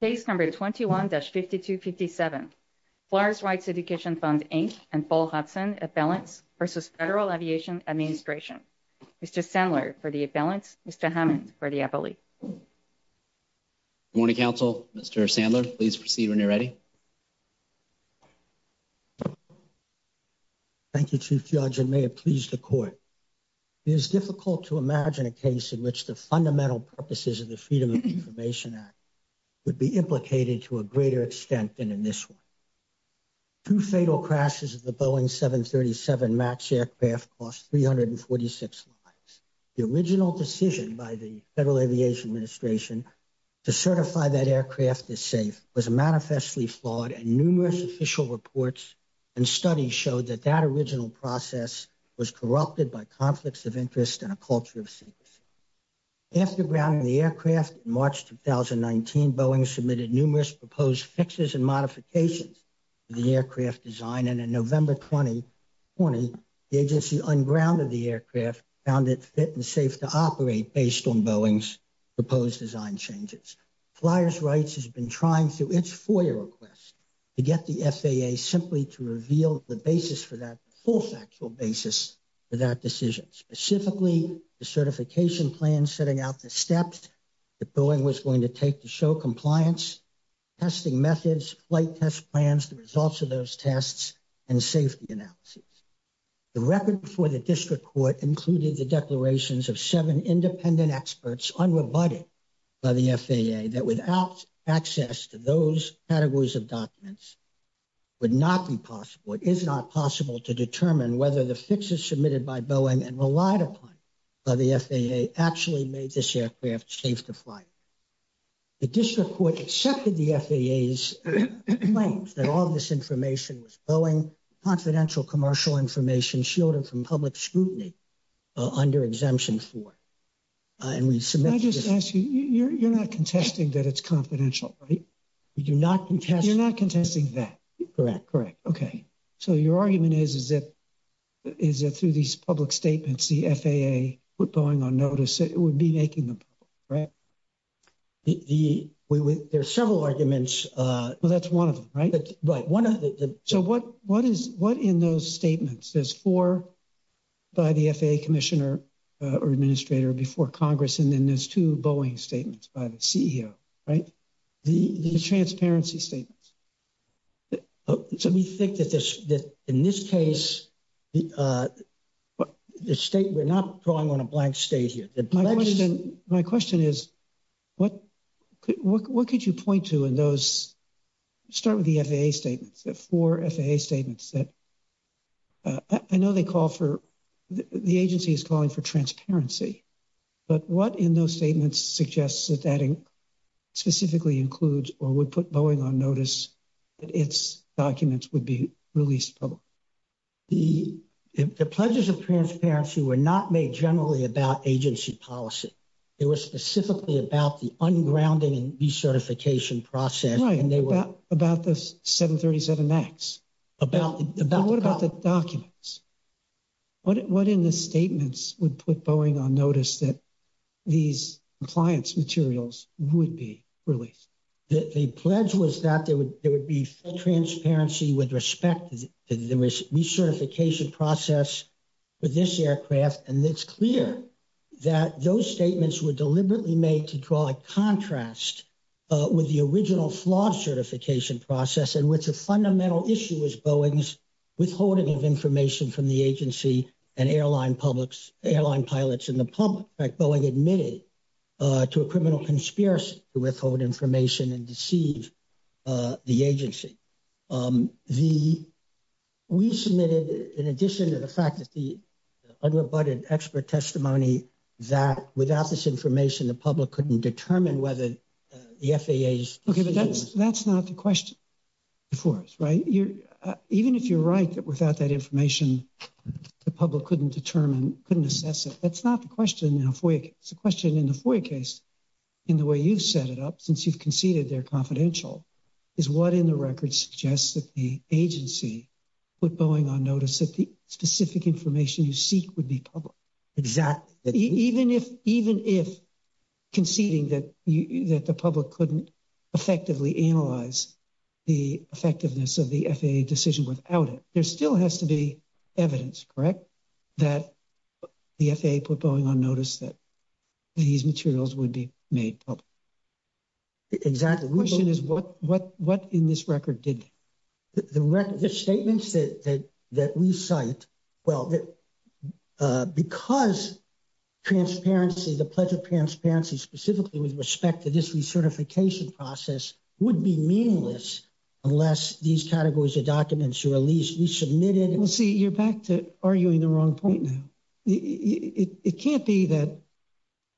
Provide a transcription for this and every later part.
Case number 21-5257, FAA, Inc. and Paul Hudson, Appellants, v. Federal Aviation Administration. Mr. Sandler for the appellants, Mr. Hammond for the appellee. Good morning, counsel. Mr. Sandler, please proceed when you're ready. Thank you, Chief Judge, and may it please the Court. It is difficult to imagine a case in which the fundamental purposes of the Freedom of Information Act would be implicated to a greater extent than in this one. Two fatal crashes of the Boeing 737 MAX aircraft cost 346 lives. The original decision by the Federal Aviation Administration to certify that aircraft as safe was manifestly flawed, and numerous official reports and studies showed that that original process was corrupted by conflicts of interest and a culture of secrecy. After grounding the aircraft in March 2019, Boeing submitted numerous proposed fixes and modifications to the aircraft design, and in November 2020, the agency ungrounded the aircraft, found it fit and safe to operate based on Boeing's proposed design changes. Flyers Rights has been trying through its FOIA requests to get the FAA simply to reveal the basis for that, a full factual basis for that decision, specifically the certification plan setting out the steps that Boeing was going to take to show compliance, testing methods, flight test plans, the results of those tests, and safety analyses. The record before the District Court included the declarations of seven independent experts, unrebutted by the FAA, that without access to those categories of documents, it would not be possible, it is not possible to determine whether the fixes submitted by Boeing and relied upon by the FAA actually made this aircraft safe to fly. The District Court accepted the FAA's claims that all of this information was Boeing, confidential commercial information shielded from public scrutiny, under Exemption 4. And we submitted this- Can I just ask you, you're not contesting that it's confidential, right? We do not contest- You're not contesting that. Correct. Correct, okay. So your argument is that through these public statements, the FAA put Boeing on notice, it would be making them public, right? There are several arguments- Well, that's one of them, right? Right, one of the- So what in those statements, there's four by the FAA commissioner or administrator before Congress, and then there's two Boeing statements by the CEO, right? The transparency statements. So we think that in this case, the state, we're not drawing on a blank state here. My question is, what could you point to in those, start with the FAA statements, the four FAA statements that, I know they call for, the agency is calling for transparency, but what in those statements suggests that that specifically includes, or would put Boeing on notice that its documents would be released public? The pledges of transparency were not made generally about agency policy. It was specifically about the ungrounding and recertification process, and they were- Right, about the 737 acts. About the- But what about the documents? What in the statements would put Boeing on notice that these compliance materials would be released? The pledge was that there would be full transparency with respect to the recertification process for this aircraft, and it's clear that those statements were deliberately made to draw a contrast with the original flawed certification process, and what's a fundamental issue is Boeing's withholding of information from the agency and airline pilots in the public. In fact, Boeing admitted to a criminal conspiracy to withhold information and deceive the agency. We submitted, in addition to the fact that the unrebutted expert testimony that without this information, the public couldn't determine whether the FAA's decisions- That's not the question before us, right? Even if you're right that without that information, the public couldn't determine, couldn't assess it, that's not the question in a FOIA case. The question in the FOIA case, in the way you've set it up, since you've conceded they're confidential, is what in the record suggests that the agency put Boeing on notice that the specific information you seek would be public? Exactly. Even if conceding that the public couldn't effectively analyze the effectiveness of the FAA decision without it, there still has to be evidence, correct, that the FAA put Boeing on notice that these materials would be made public? Exactly. The question is what in this record did they? The statements that we cite, well, because transparency, the Pledge of Transparency, specifically with respect to this recertification process, would be meaningless unless these categories of documents are at least resubmitted. Well, see, you're back to arguing the wrong point now. It can't be that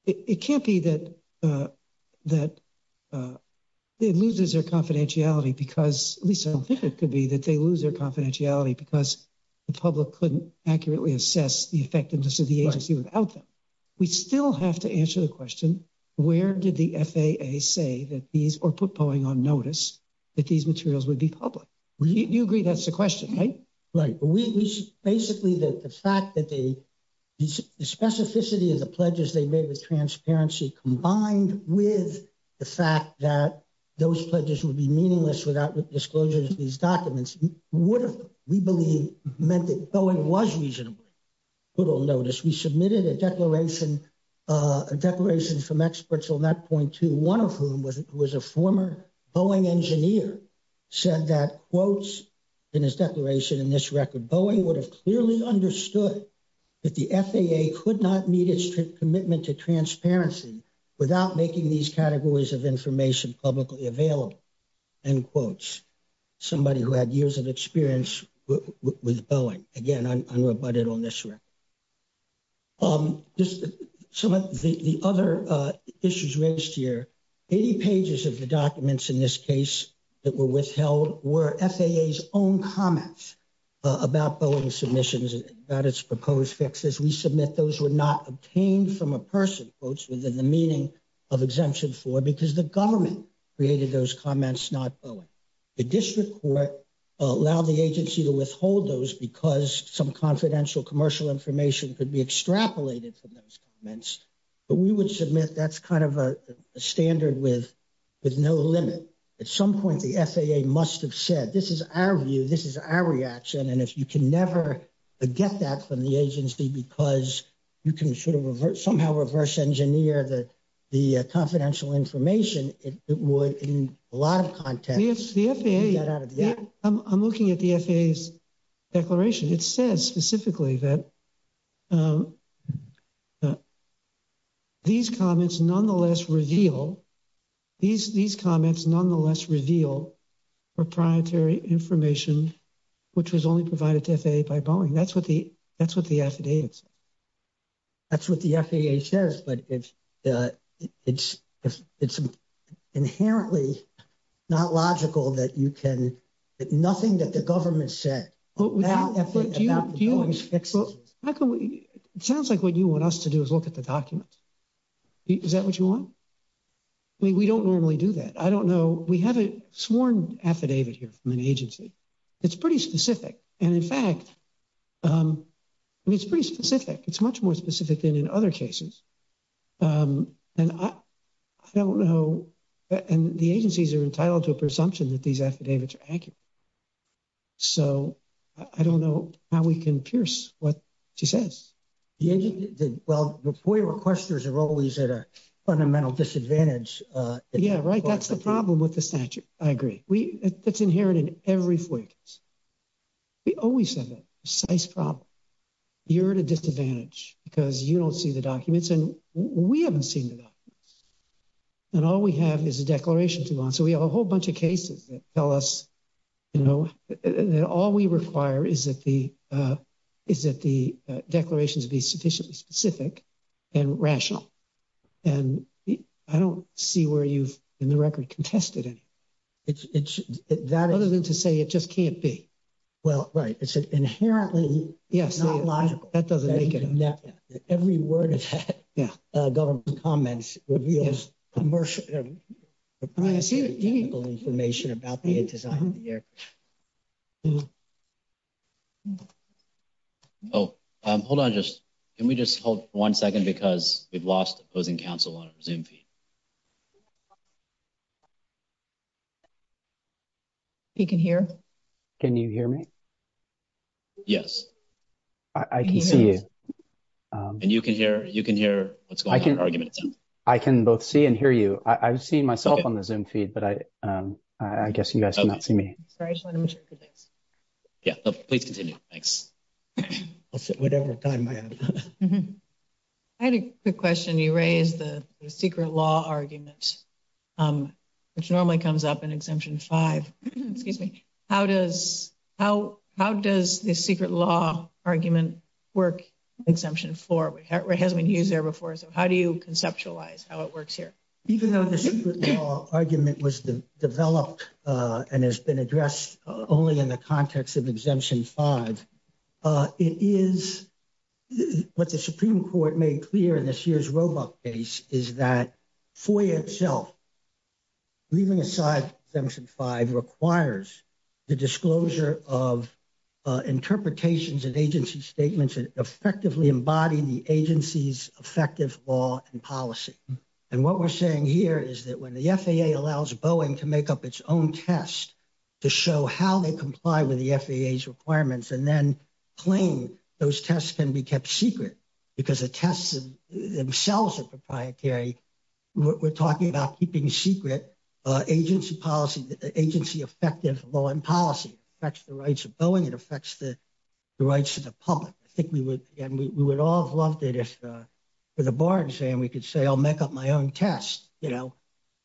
it loses their confidentiality because, at least I don't think it could be, that they lose their confidentiality because the public couldn't accurately assess the effectiveness of the agency without them. We still have to answer the question, where did the FAA say that these, or put Boeing on notice, that these materials would be public? You agree that's the question, right? Right. Basically, the fact that the specificity of the pledges they made with transparency, combined with the fact that those pledges would be meaningless without disclosures of these documents, would have, we believe, meant that Boeing was reasonably put on notice. We submitted a declaration from experts on that point, to one of whom was a former Boeing engineer, said that, quotes in his declaration in this record, Boeing would have clearly understood that the FAA could not meet its commitment to transparency without making these categories of information publicly available, end quotes. Somebody who had years of experience with Boeing, again, unrebutted on this record. Some of the other issues raised here, 80 pages of the documents in this case that were withheld, were FAA's own comments about Boeing's submissions, about its proposed fixes. We submit those were not obtained from a person, quotes, within the meaning of Exemption 4, because the government created those comments, not Boeing. The district court allowed the agency to withhold those because some confidential commercial information could be extrapolated from those comments. But we would submit that's kind of a standard with no limit. At some point, the FAA must have said, this is our view, this is our reaction, and if you can never get that from the agency because you can sort of reverse, somehow reverse engineer the confidential information, it would, in a lot of contexts, get out of the act. I'm looking at the FAA's declaration. It says specifically that these comments nonetheless reveal proprietary information, which was only provided to FAA by Boeing. That's what the affidavits say. That's what the FAA says, but it's inherently not logical that you can, nothing that the government said about the Boeing's fixes. It sounds like what you want us to do is look at the documents. Is that what you want? I mean, we don't normally do that. I don't know. We have a sworn affidavit here from an agency. It's pretty specific. And, in fact, I mean, it's pretty specific. It's much more specific than in other cases. And I don't know, and the agencies are entitled to a presumption that these affidavits are accurate. So I don't know how we can pierce what she says. Well, the FOIA requesters are always at a fundamental disadvantage. Yeah, right. That's the problem with the statute. I agree. That's inherent in every FOIA case. We always have a precise problem. You're at a disadvantage because you don't see the documents, and we haven't seen the documents. And all we have is a declaration to go on. So we have a whole bunch of cases that tell us, you know, that all we require is that the declarations be sufficiently specific and rational. And I don't see where you've, in the record, contested any. Other than to say it just can't be. Well, right. It's inherently not logical. That doesn't make any sense. Every word of that government comment reveals commercial information about the design of the aircraft. Oh, hold on. Can we just hold one second? Because we've lost opposing counsel on our Zoom feed. He can hear. Can you hear me? Yes. I can see you. And you can hear what's going on. I can both see and hear you. I've seen myself on the Zoom feed. But I guess you guys cannot see me. Please continue. Thanks. I'll sit whatever time I have. I had a quick question. You raised the secret law argument, which normally comes up in Exemption 5. Excuse me. How does the secret law argument work in Exemption 4? It hasn't been used there before. So how do you conceptualize how it works here? Even though the secret law argument was developed and has been addressed only in the context of Exemption 5, it is what the Supreme Court made clear in this year's Roebuck case is that FOIA itself, leaving aside Exemption 5, requires the disclosure of interpretations and agency statements that effectively embody the agency's effective law and policy. And what we're saying here is that when the FAA allows Boeing to make up its own test to show how they comply with the FAA's requirements and then claim those tests can be kept secret because the tests themselves are proprietary, we're talking about keeping secret agency policy, agency effective law and policy. It affects the rights of Boeing. It affects the rights of the public. I think we would all have loved it if for the bar exam we could say I'll make up my own test, you know,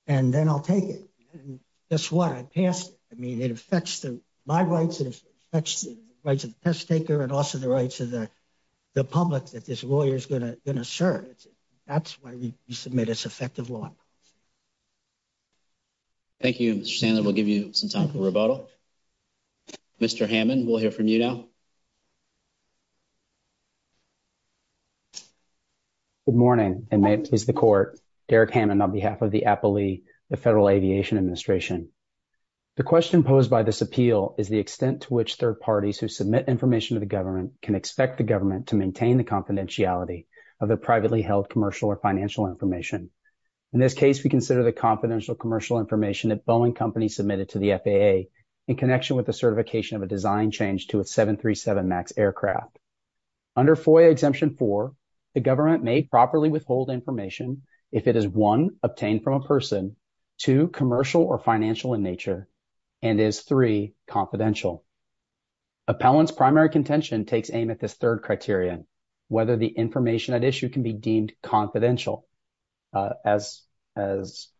and then I'll take it. And guess what? I passed it. I mean, it affects my rights. It affects the rights of the test taker and also the rights of the public that this lawyer is going to serve. That's why we submit its effective law. Thank you, Mr. Sandler. We'll give you some time for rebuttal. Mr. Hammond, we'll hear from you now. Good morning, and may it please the Court. Derek Hammond on behalf of the Appley, the Federal Aviation Administration. The question posed by this appeal is the extent to which third parties who submit information to the government can expect the government to maintain the confidentiality of the privately held commercial or financial information. In this case, we consider the confidential commercial information that Boeing Company submitted to the FAA in connection with the certification of a design change to a 737 MAX aircraft. Under FOIA Exemption 4, the government may properly withhold information if it is, one, obtained from a person, two, commercial or financial in nature, and is, three, confidential. Appellant's primary contention takes aim at this third criterion, whether the information at issue can be deemed confidential. As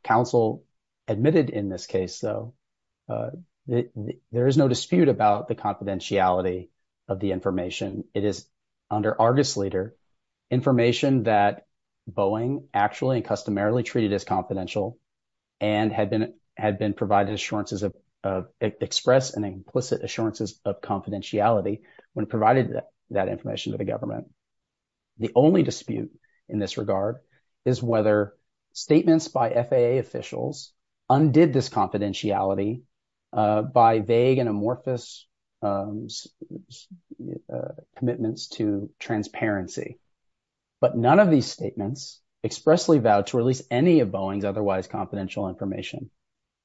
counsel admitted in this case, though, there is no dispute about the confidentiality of the information. It is under Argus Leader information that Boeing actually and customarily treated as confidential and had been provided assurances of express and implicit assurances of confidentiality when it provided that information to the government. The only dispute in this regard is whether statements by FAA officials undid this confidentiality by vague and amorphous commitments to transparency. But none of these statements expressly vowed to release any of Boeing's otherwise confidential information.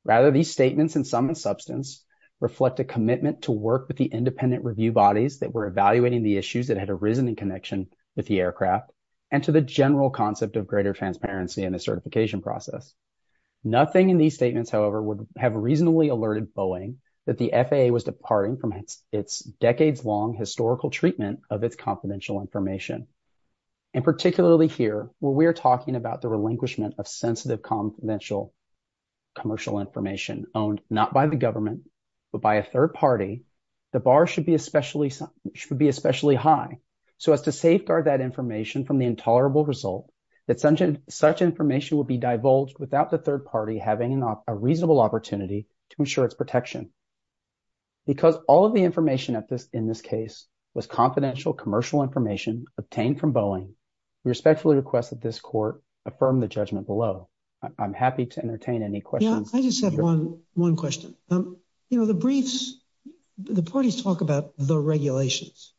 Rather, these statements in some substance reflect a commitment to work with the independent review bodies that were evaluating the issues that had arisen in connection with the aircraft and to the general concept of greater transparency in the certification process. Nothing in these statements, however, would have reasonably alerted Boeing that the FAA was departing from its decades-long historical treatment of its confidential information. And particularly here, where we are talking about the relinquishment of sensitive confidential commercial information owned not by the government but by a third party, the bar should be especially high so as to safeguard that information from the intolerable result that such information will be divulged without the third party having a reasonable opportunity to ensure its protection. Because all of the information in this case was confidential commercial information obtained from Boeing, we respectfully request that this court affirm the judgment below. I'm happy to entertain any questions. I just have one question. You know, the briefs, the parties talk about the regulations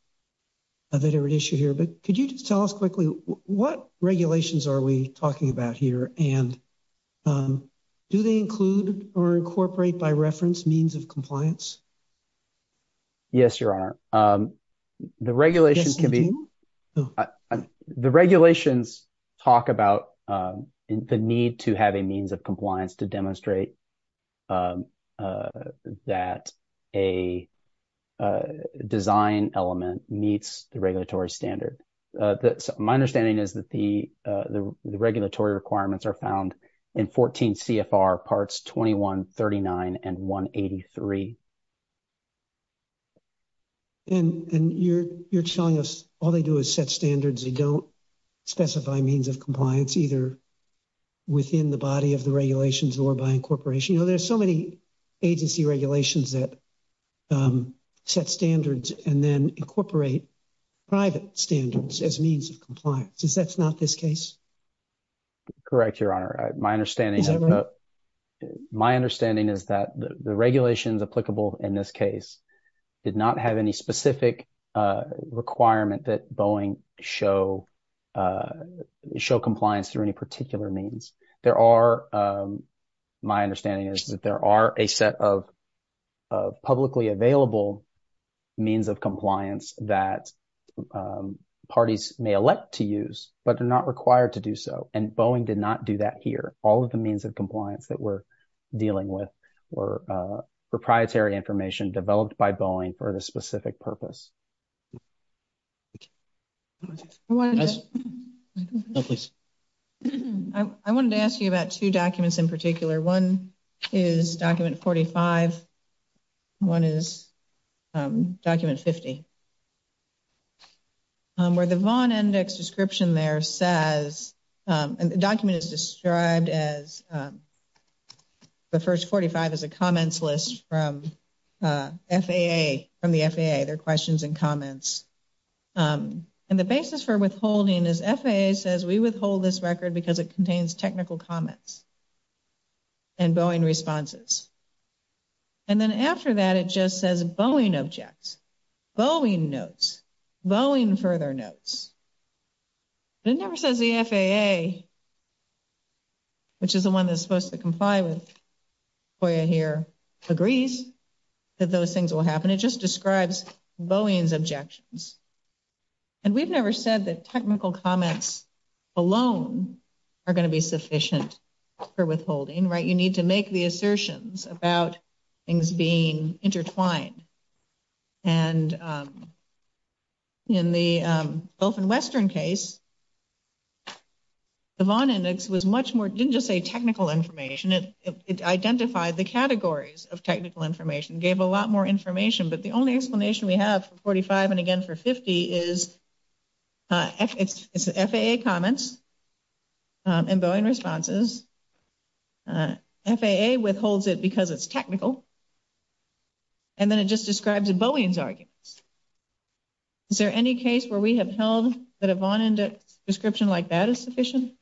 that are at issue here, but could you just tell us quickly what regulations are we talking about here? And do they include or incorporate by reference means of compliance? Yes, Your Honor. The regulations talk about the need to have a means of compliance to demonstrate that a design element meets the regulatory standard. My understanding is that the regulatory requirements are found in 14 CFR Parts 21, 39, and 183. And you're telling us all they do is set standards. They don't specify means of compliance either within the body of the regulations or by incorporation. You know, there's so many agency regulations that set standards and then incorporate private standards as means of compliance. Is that not this case? Correct, Your Honor. My understanding is that the regulations applicable in this case did not have any specific requirement that Boeing show compliance through any particular means. There are, my understanding is that there are a set of publicly available means of compliance that parties may elect to use, but they're not required to do so. And Boeing did not do that here. All of the means of compliance that we're dealing with were proprietary information developed by Boeing for the specific purpose. I wanted to ask you about two documents in particular. One is Document 45. One is Document 50. Where the Vaughn Index description there says, and the document is described as, the first 45 is a comments list from FAA, from the FAA. They're questions and comments. And the basis for withholding is FAA says we withhold this record because it contains technical comments and Boeing responses. And then after that it just says Boeing objects, Boeing notes, Boeing further notes. It never says the FAA, which is the one that's supposed to comply with FOIA here, agrees that those things will happen. And it just describes Boeing's objections. And we've never said that technical comments alone are going to be sufficient for withholding, right? You need to make the assertions about things being intertwined. And in the Gulf and Western case, the Vaughn Index was much more, it didn't just say technical information, it identified the categories of technical information, gave a lot more information. But the only explanation we have for 45 and again for 50 is FAA comments and Boeing responses. FAA withholds it because it's technical. And then it just describes Boeing's arguments. Is there any case where we have held that a Vaughn Index description like that is sufficient?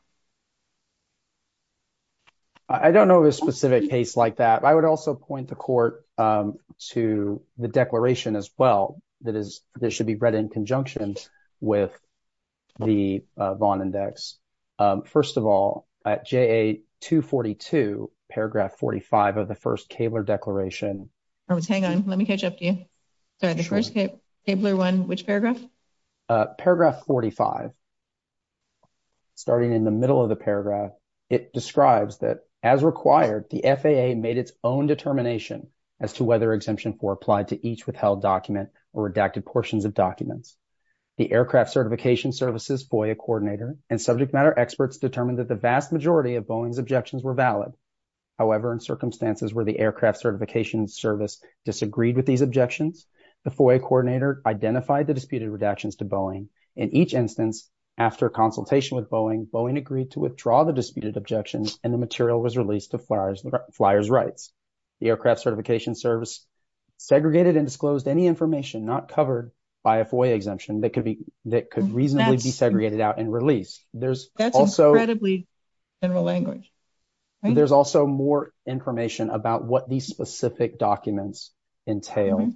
I don't know of a specific case like that. I would also point the court to the declaration as well that should be read in conjunction with the Vaughn Index. First of all, at JA 242, paragraph 45 of the first Kaebler declaration. Hang on, let me catch up to you. The first Kaebler one, which paragraph? Paragraph 45. Starting in the middle of the paragraph, it describes that as required, the FAA made its own determination as to whether Exemption 4 applied to each withheld document or redacted portions of documents. The Aircraft Certification Service's FOIA coordinator and subject matter experts determined that the vast majority of Boeing's objections were valid. However, in circumstances where the Aircraft Certification Service disagreed with these objections, the FOIA coordinator identified the disputed redactions to Boeing. In each instance, after consultation with Boeing, Boeing agreed to withdraw the disputed objections, and the material was released to Flyers Rights. The Aircraft Certification Service segregated and disclosed any information not covered by a FOIA exemption that could reasonably be segregated out and released. That's incredibly general language. There's also more information about what these specific documents entail,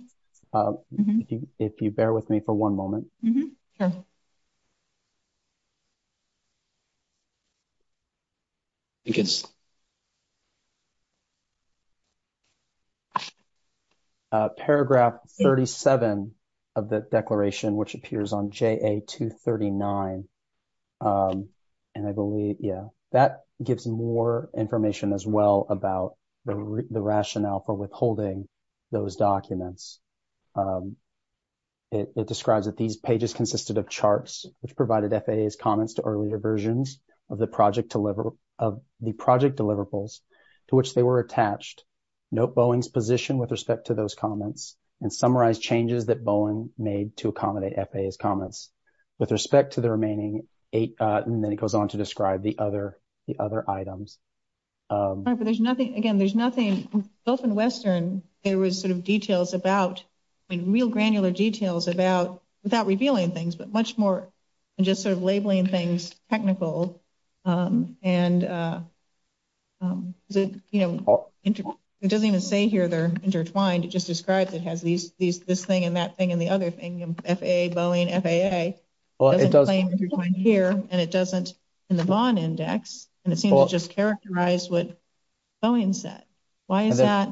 if you bear with me for one moment. Mm-hmm. Paragraph 37 of the declaration, which appears on JA-239, and I believe, yeah, that gives more information as well about the rationale for withholding those documents. It describes that these pages consisted of charts, which provided FAA's comments to earlier versions of the project deliverables to which they were attached. Note Boeing's position with respect to those comments, and summarize changes that Boeing made to accommodate FAA's comments. With respect to the remaining eight, and then it goes on to describe the other items. All right, but there's nothing, again, there's nothing, both in Western, there was sort of details about, I mean, real granular details about, without revealing things, but much more just sort of labeling things technical, and, you know, it doesn't even say here they're intertwined, it just describes it as this thing and that thing and the other thing, FAA, Boeing, FAA. Well, it does. Here, and it doesn't in the Vaughn Index, and it seems to just characterize what Boeing said. Why is that?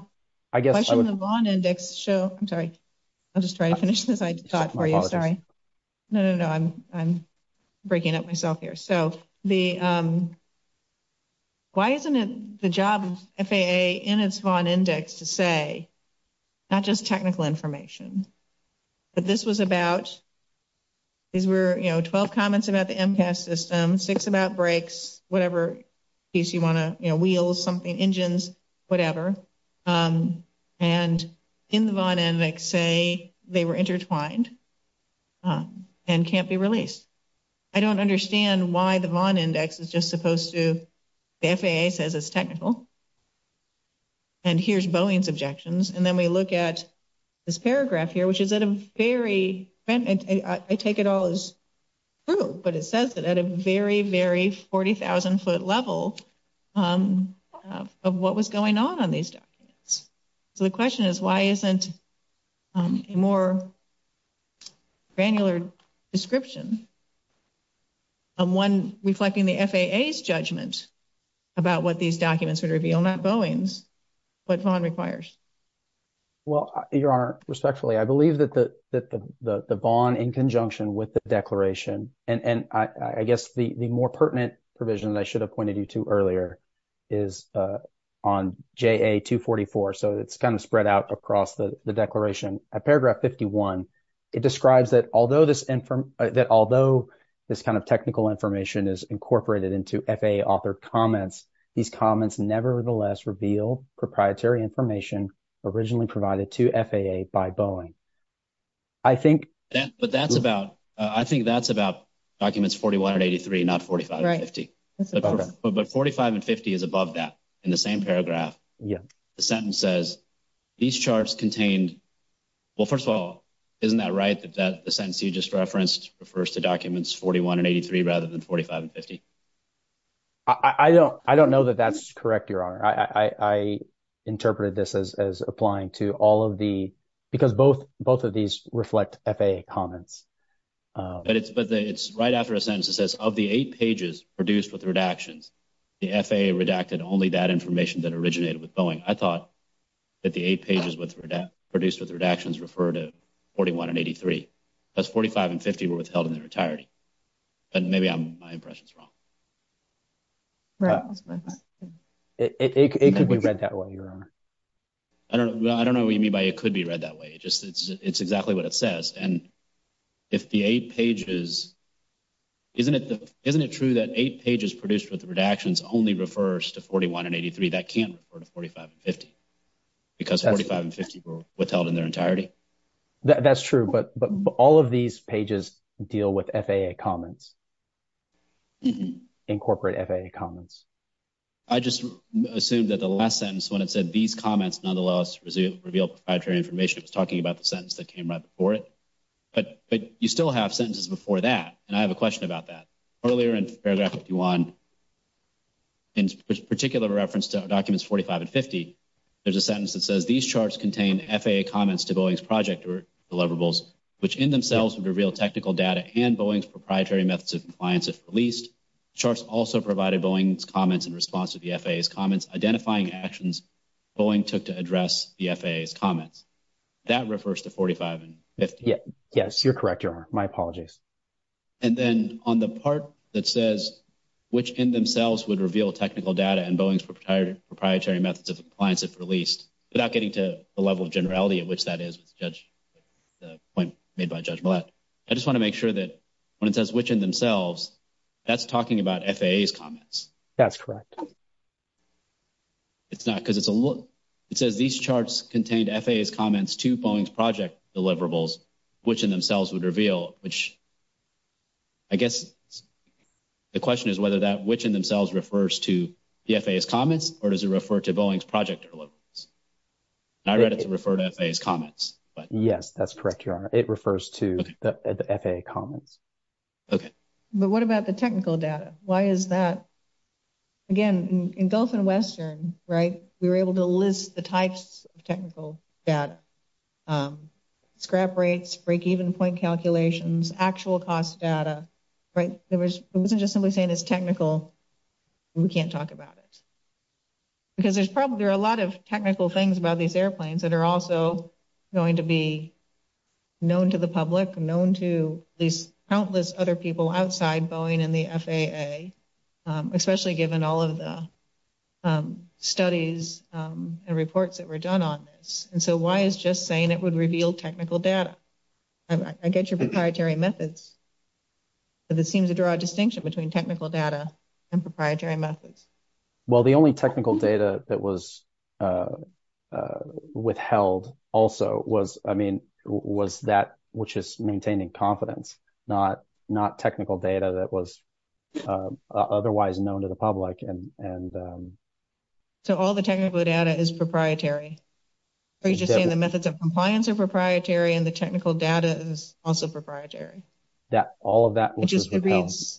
I guess. Why shouldn't the Vaughn Index show, I'm sorry, I'll just try to finish this thought for you, sorry. No, no, no, I'm breaking up myself here. So, the, why isn't it the job of FAA in its Vaughn Index to say, not just technical information, but this was about, these were, you know, 12 comments about the MCAS system, six about brakes, whatever piece you want to, you know, wheels, something, engines, whatever, and in the Vaughn Index say they were intertwined, and can't be released. I don't understand why the Vaughn Index is just supposed to, the FAA says it's technical, and here's Boeing's objections, and then we look at this paragraph here, which is at a very, I take it all as true, but it says it at a very, very 40,000 foot level of what was going on on these documents. So, the question is, why isn't a more granular description of one reflecting the FAA's judgment about what these documents would reveal, not Boeing's, what Vaughn requires? Well, Your Honor, respectfully, I believe that the Vaughn in conjunction with the declaration, and I guess the more pertinent provision that I should have pointed you to earlier is on JA244, so it's kind of spread out across the declaration. At paragraph 51, it describes that although this kind of technical information is incorporated into FAA authored comments, these comments nevertheless reveal proprietary information originally provided to FAA by Boeing. I think – But that's about, I think that's about documents 41 and 83, not 45 and 50. But 45 and 50 is above that in the same paragraph. The sentence says these charts contained, well, first of all, isn't that right that the sentence you just referenced refers to documents 41 and 83 rather than 45 and 50? I don't know that that's correct, Your Honor. I interpreted this as applying to all of the – because both of these reflect FAA comments. But it's right after a sentence that says of the eight pages produced with redactions, the FAA redacted only that information that originated with Boeing. I thought that the eight pages produced with redactions referred to 41 and 83. That's 45 and 50 were withheld in their entirety. But maybe my impression's wrong. Right. It could be read that way, Your Honor. Well, I don't know what you mean by it could be read that way. It's exactly what it says. And if the eight pages – isn't it true that eight pages produced with redactions only refers to 41 and 83? That can't refer to 45 and 50 because 45 and 50 were withheld in their entirety. That's true, but all of these pages deal with FAA comments, incorporate FAA comments. I just assumed that the last sentence when it said these comments nonetheless reveal proprietary information was talking about the sentence that came right before it. But you still have sentences before that, and I have a question about that. Earlier in paragraph 51, in particular reference to documents 45 and 50, there's a sentence that says, these charts contain FAA comments to Boeing's project deliverables, which in themselves would reveal technical data and Boeing's proprietary methods of compliance if released. Charts also provided Boeing's comments in response to the FAA's comments, identifying actions Boeing took to address the FAA's comments. That refers to 45 and 50. Yes, you're correct, Your Honor. My apologies. And then on the part that says, which in themselves would reveal technical data and Boeing's proprietary methods of compliance if released, without getting to the level of generality at which that is with the point made by Judge Millett, I just want to make sure that when it says which in themselves, that's talking about FAA's comments. That's correct. It's not because it's a little, it says these charts contained FAA's comments to Boeing's project deliverables, which in themselves would reveal, which I guess the question is whether that which in themselves refers to the FAA's comments, or does it refer to Boeing's project deliverables? I read it to refer to FAA's comments. Yes, that's correct, Your Honor. It refers to the FAA comments. Okay. But what about the technical data? Why is that? Again, in Gulf and Western, right, we were able to list the types of technical data. Scrap rates, break-even point calculations, actual cost data, right? It wasn't just simply saying it's technical. We can't talk about it. Because there's probably a lot of technical things about these airplanes that are also going to be known to the public, known to these countless other people outside Boeing and the FAA, especially given all of the studies and reports that were done on this. And so why is just saying it would reveal technical data? I get your proprietary methods, but it seems to draw a distinction between technical data and proprietary methods. Well, the only technical data that was withheld also was, I mean, was that which is maintaining confidence, not technical data that was otherwise known to the public. So all the technical data is proprietary. Are you just saying the methods of compliance are proprietary and the technical data is also proprietary? All of that was withheld. It just reads.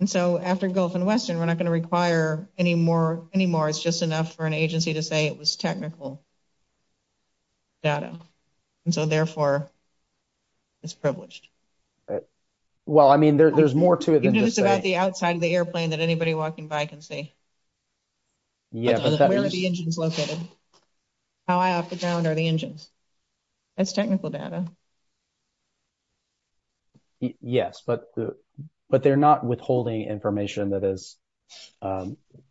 And so after Gulf and Western, we're not going to require any more. It's just enough for an agency to say it was technical data. And so, therefore, it's privileged. Well, I mean, there's more to it than just saying. Is that the outside of the airplane that anybody walking by can see? Yeah. Where are the engines located? How high off the ground are the engines? That's technical data. Yes, but they're not withholding information that is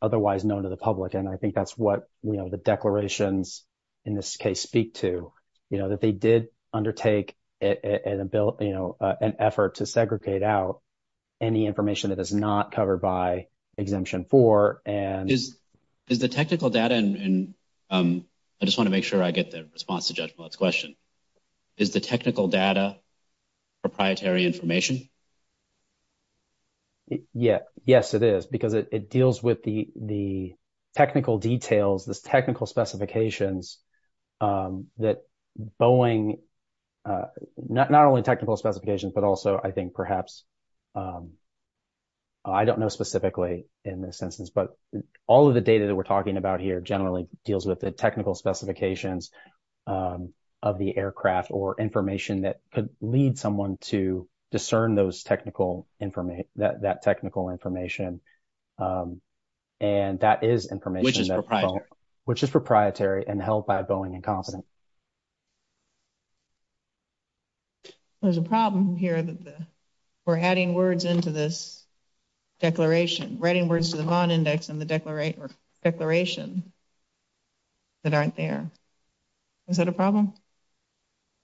otherwise known to the public. And I think that's what the declarations in this case speak to, you know, that they did undertake an effort to segregate out any information that is not covered by Exemption 4. Is the technical data, and I just want to make sure I get the response to Judge Millett's question, is the technical data proprietary information? Yeah. Yes, it is, because it deals with the technical details, the technical specifications that Boeing, not only technical specifications, but also I think perhaps I don't know specifically in this instance, but all of the data that we're talking about here generally deals with the technical specifications of the aircraft or information that could lead someone to discern that technical information. And that is information which is proprietary and held by Boeing and Confident. There's a problem here that we're adding words into this declaration, writing words to the Vaughn Index in the declaration that aren't there. Is that a problem?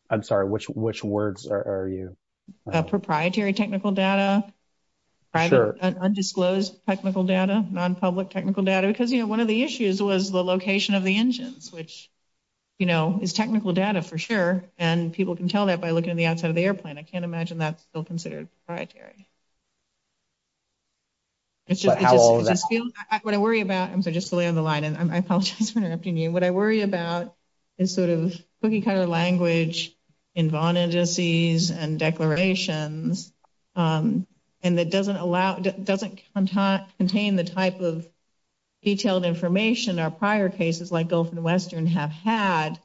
I'm sorry. Which words are you? Proprietary technical data, undisclosed technical data, nonpublic technical data, because, you know, one of the issues was the location of the engines, which, you know, is technical data for sure. And people can tell that by looking at the outside of the airplane. I can't imagine that's still considered proprietary. It's just what I worry about. I'm sorry, just to lay on the line, and I apologize for interrupting you. What I worry about is sort of cookie cutter language in Vaughn Indices and declarations, and that doesn't contain the type of detailed information our prior cases like Gulf and Western have had.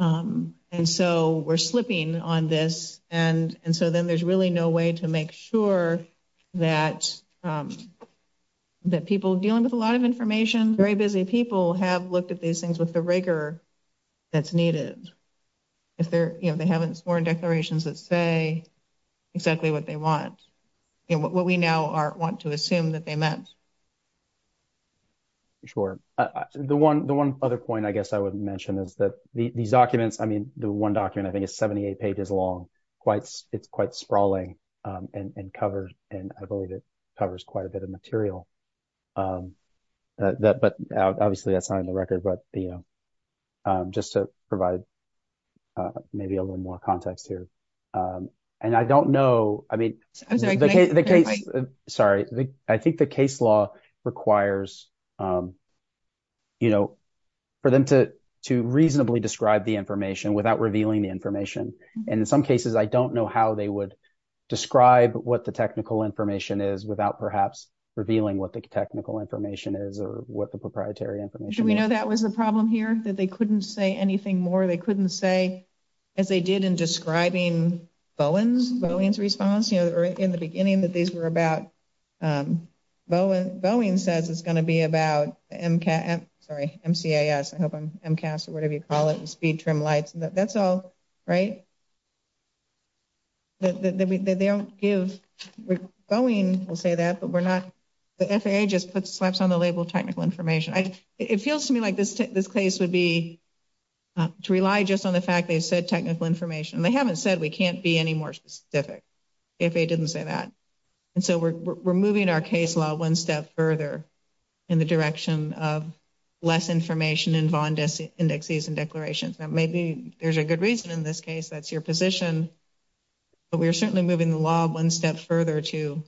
And so we're slipping on this. And so then there's really no way to make sure that people dealing with a lot of information, very busy people have looked at these things with the rigor that's needed. If they haven't sworn declarations that say exactly what they want, what we now want to assume that they meant. Sure. The one other point I guess I would mention is that these documents, I mean, the one document I think is 78 pages long. It's quite sprawling and covers, and I believe it covers quite a bit of material. But obviously that's not in the record, but, you know, just to provide maybe a little more context here. And I don't know, I mean, the case, sorry, I think the case law requires, you know, for them to reasonably describe the information without revealing the information. And in some cases I don't know how they would describe what the technical information is without perhaps revealing what the technical information is or what the proprietary information is. Should we know that was the problem here, that they couldn't say anything more? They couldn't say, as they did in describing Bowen's, Bowen's response, you know, in the beginning that these were about, Bowen says it's going to be about MCAS, I hope I'm, MCAS or whatever you call it, speed trim lights, that's all, right? They don't give, Bowen will say that, but we're not, the FAA just puts slaps on the label technical information. It feels to me like this case would be to rely just on the fact they said technical information. And they haven't said we can't be any more specific if they didn't say that. And so we're moving our case law one step further in the direction of less information in VON indexes and declarations. Now maybe there's a good reason in this case that's your position, but we're certainly moving the law one step further to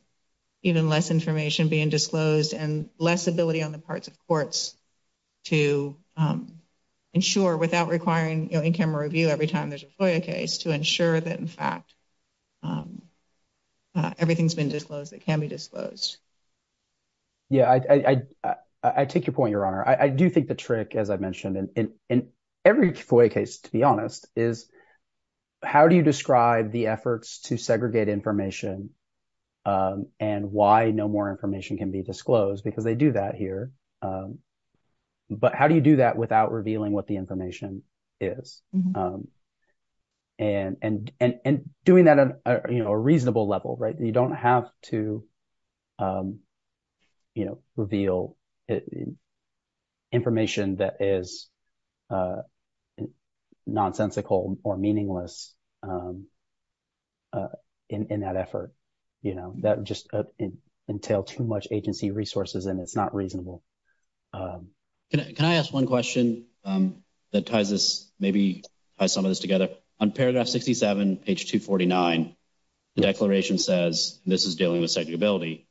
even less information being disclosed and less ability on the parts of courts to ensure without requiring in-camera review every time there's a FOIA case to ensure that, in fact, everything's been disclosed that can be disclosed. Yeah, I take your point, Your Honor. I do think the trick, as I mentioned, in every FOIA case, to be honest, is how do you describe the efforts to segregate information and why no more information can be disclosed? Because they do that here. But how do you do that without revealing what the information is? And doing that on a reasonable level, right? You don't have to, you know, reveal information that is nonsensical or meaningless in that effort. You know, that would just entail too much agency resources and it's not reasonable. Can I ask one question that ties this, maybe ties some of this together? On paragraph 67, page 249, the declaration says this is dealing with segregability.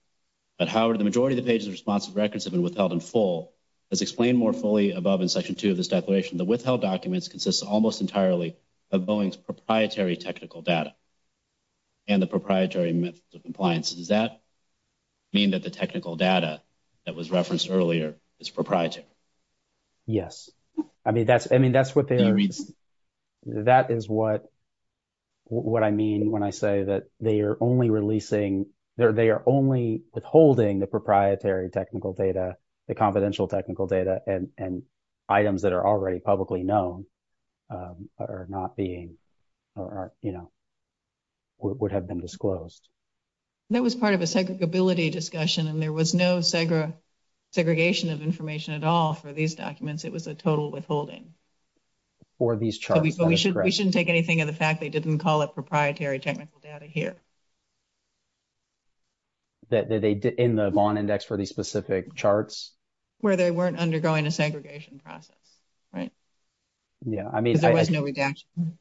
But, Howard, the majority of the pages of responsive records have been withheld in full. As explained more fully above in section 2 of this declaration, the withheld documents consist almost entirely of Boeing's proprietary technical data and the proprietary methods of compliance. Does that mean that the technical data that was referenced earlier is proprietary? Yes. I mean, that's what they're, that is what I mean when I say that they are only releasing, they are only withholding the proprietary technical data, the confidential technical data, and items that are already publicly known are not being, you know, would have been disclosed. That was part of a segregability discussion and there was no segregation of information at all for these documents. It was a total withholding. For these charts. We shouldn't take anything of the fact they didn't call it proprietary technical data here. That they did in the Vaughn Index for these specific charts? Where they weren't undergoing a segregation process, right? Yeah, I mean. Because there was no redaction.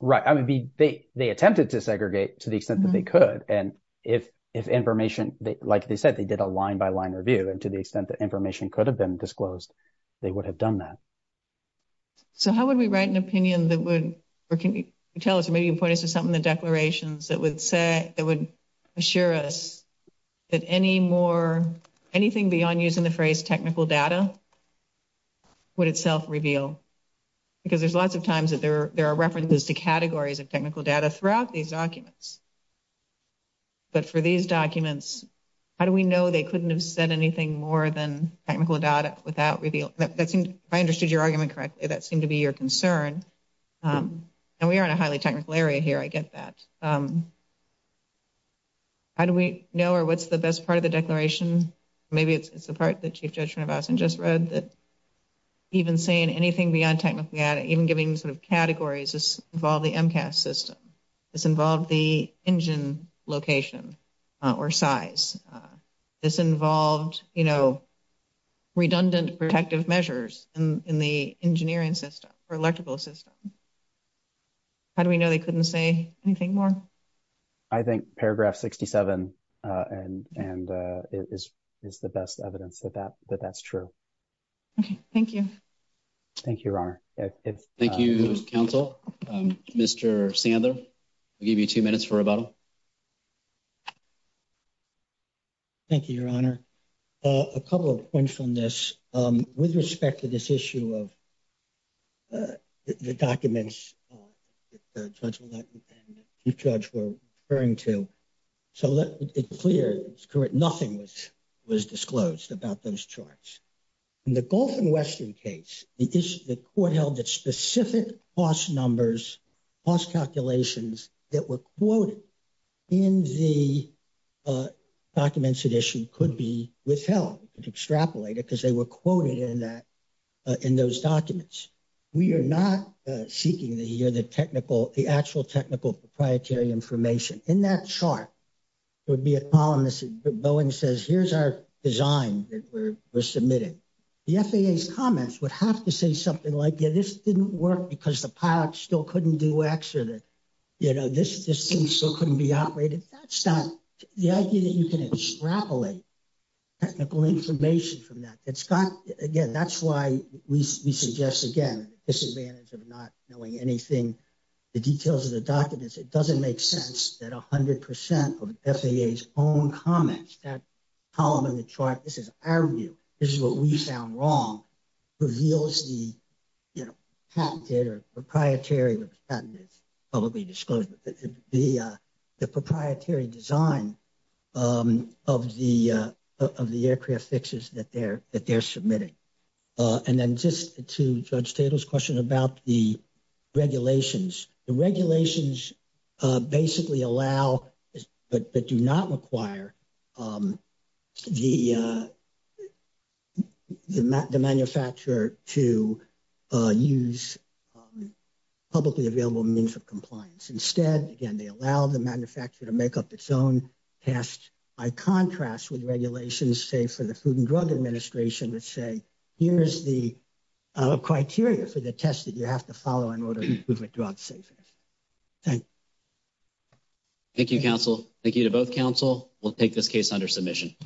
Right. I mean, they attempted to segregate to the extent that they could. And if information, like they said, they did a line-by-line review. And to the extent that information could have been disclosed, they would have done that. So how would we write an opinion that would, or can you tell us, or maybe you can point us to something in the declarations that would say, that would assure us that any more, anything beyond using the phrase technical data, would itself reveal? Because there's lots of times that there are references to categories of technical data throughout these documents. But for these documents, how do we know they couldn't have said anything more than technical data without revealing? That seemed, if I understood your argument correctly, that seemed to be your concern. And we are in a highly technical area here. I get that. How do we know, or what's the best part of the declaration? Maybe it's the part that Chief Judge Van Vossen just read that even saying anything beyond technical data, even giving sort of categories, this involved the MCAS system. This involved the engine location or size. This involved, you know, redundant protective measures in the engineering system or electrical system. How do we know they couldn't say anything more? I think paragraph 67 is the best evidence that that's true. Okay, thank you. Thank you, Your Honor. Thank you, counsel. Mr. Sandler, I'll give you two minutes for rebuttal. Thank you, Your Honor. A couple of points on this. With respect to this issue of the documents that the judge and the chief judge were referring to, so it's clear, it's correct, nothing was disclosed about those charts. In the Gulf and Western case, the court held that specific cost numbers, cost calculations that were quoted in the documents at issue could be withheld, could extrapolate it because they were quoted in that, in those documents. We are not seeking to hear the technical, the actual technical proprietary information. In that chart, there would be a column that says, Boeing says, here's our design that we're submitting. The FAA's comments would have to say something like, yeah, this didn't work because the pilot still couldn't do X, or that, you know, this thing still couldn't be operated. That's not the idea that you can extrapolate technical information from that. It's got, again, that's why we suggest, again, the disadvantage of not knowing anything, the details of the documents. It doesn't make sense that 100% of FAA's own comments, that column in the chart, this is our view, this is what we found wrong, reveals the, you know, patented or proprietary, probably disclosed, the proprietary design of the aircraft fixes that they're submitting. And then just to Judge Tatel's question about the regulations, the regulations basically allow but do not require the manufacturer to use publicly available means of compliance. Instead, again, they allow the manufacturer to make up its own test. By contrast with regulations, say, for the Food and Drug Administration that say, here's the criteria for the test that you have to follow in order to improve your drug safety. Thank you. Thank you, counsel. Thank you to both counsel. We'll take this case under submission.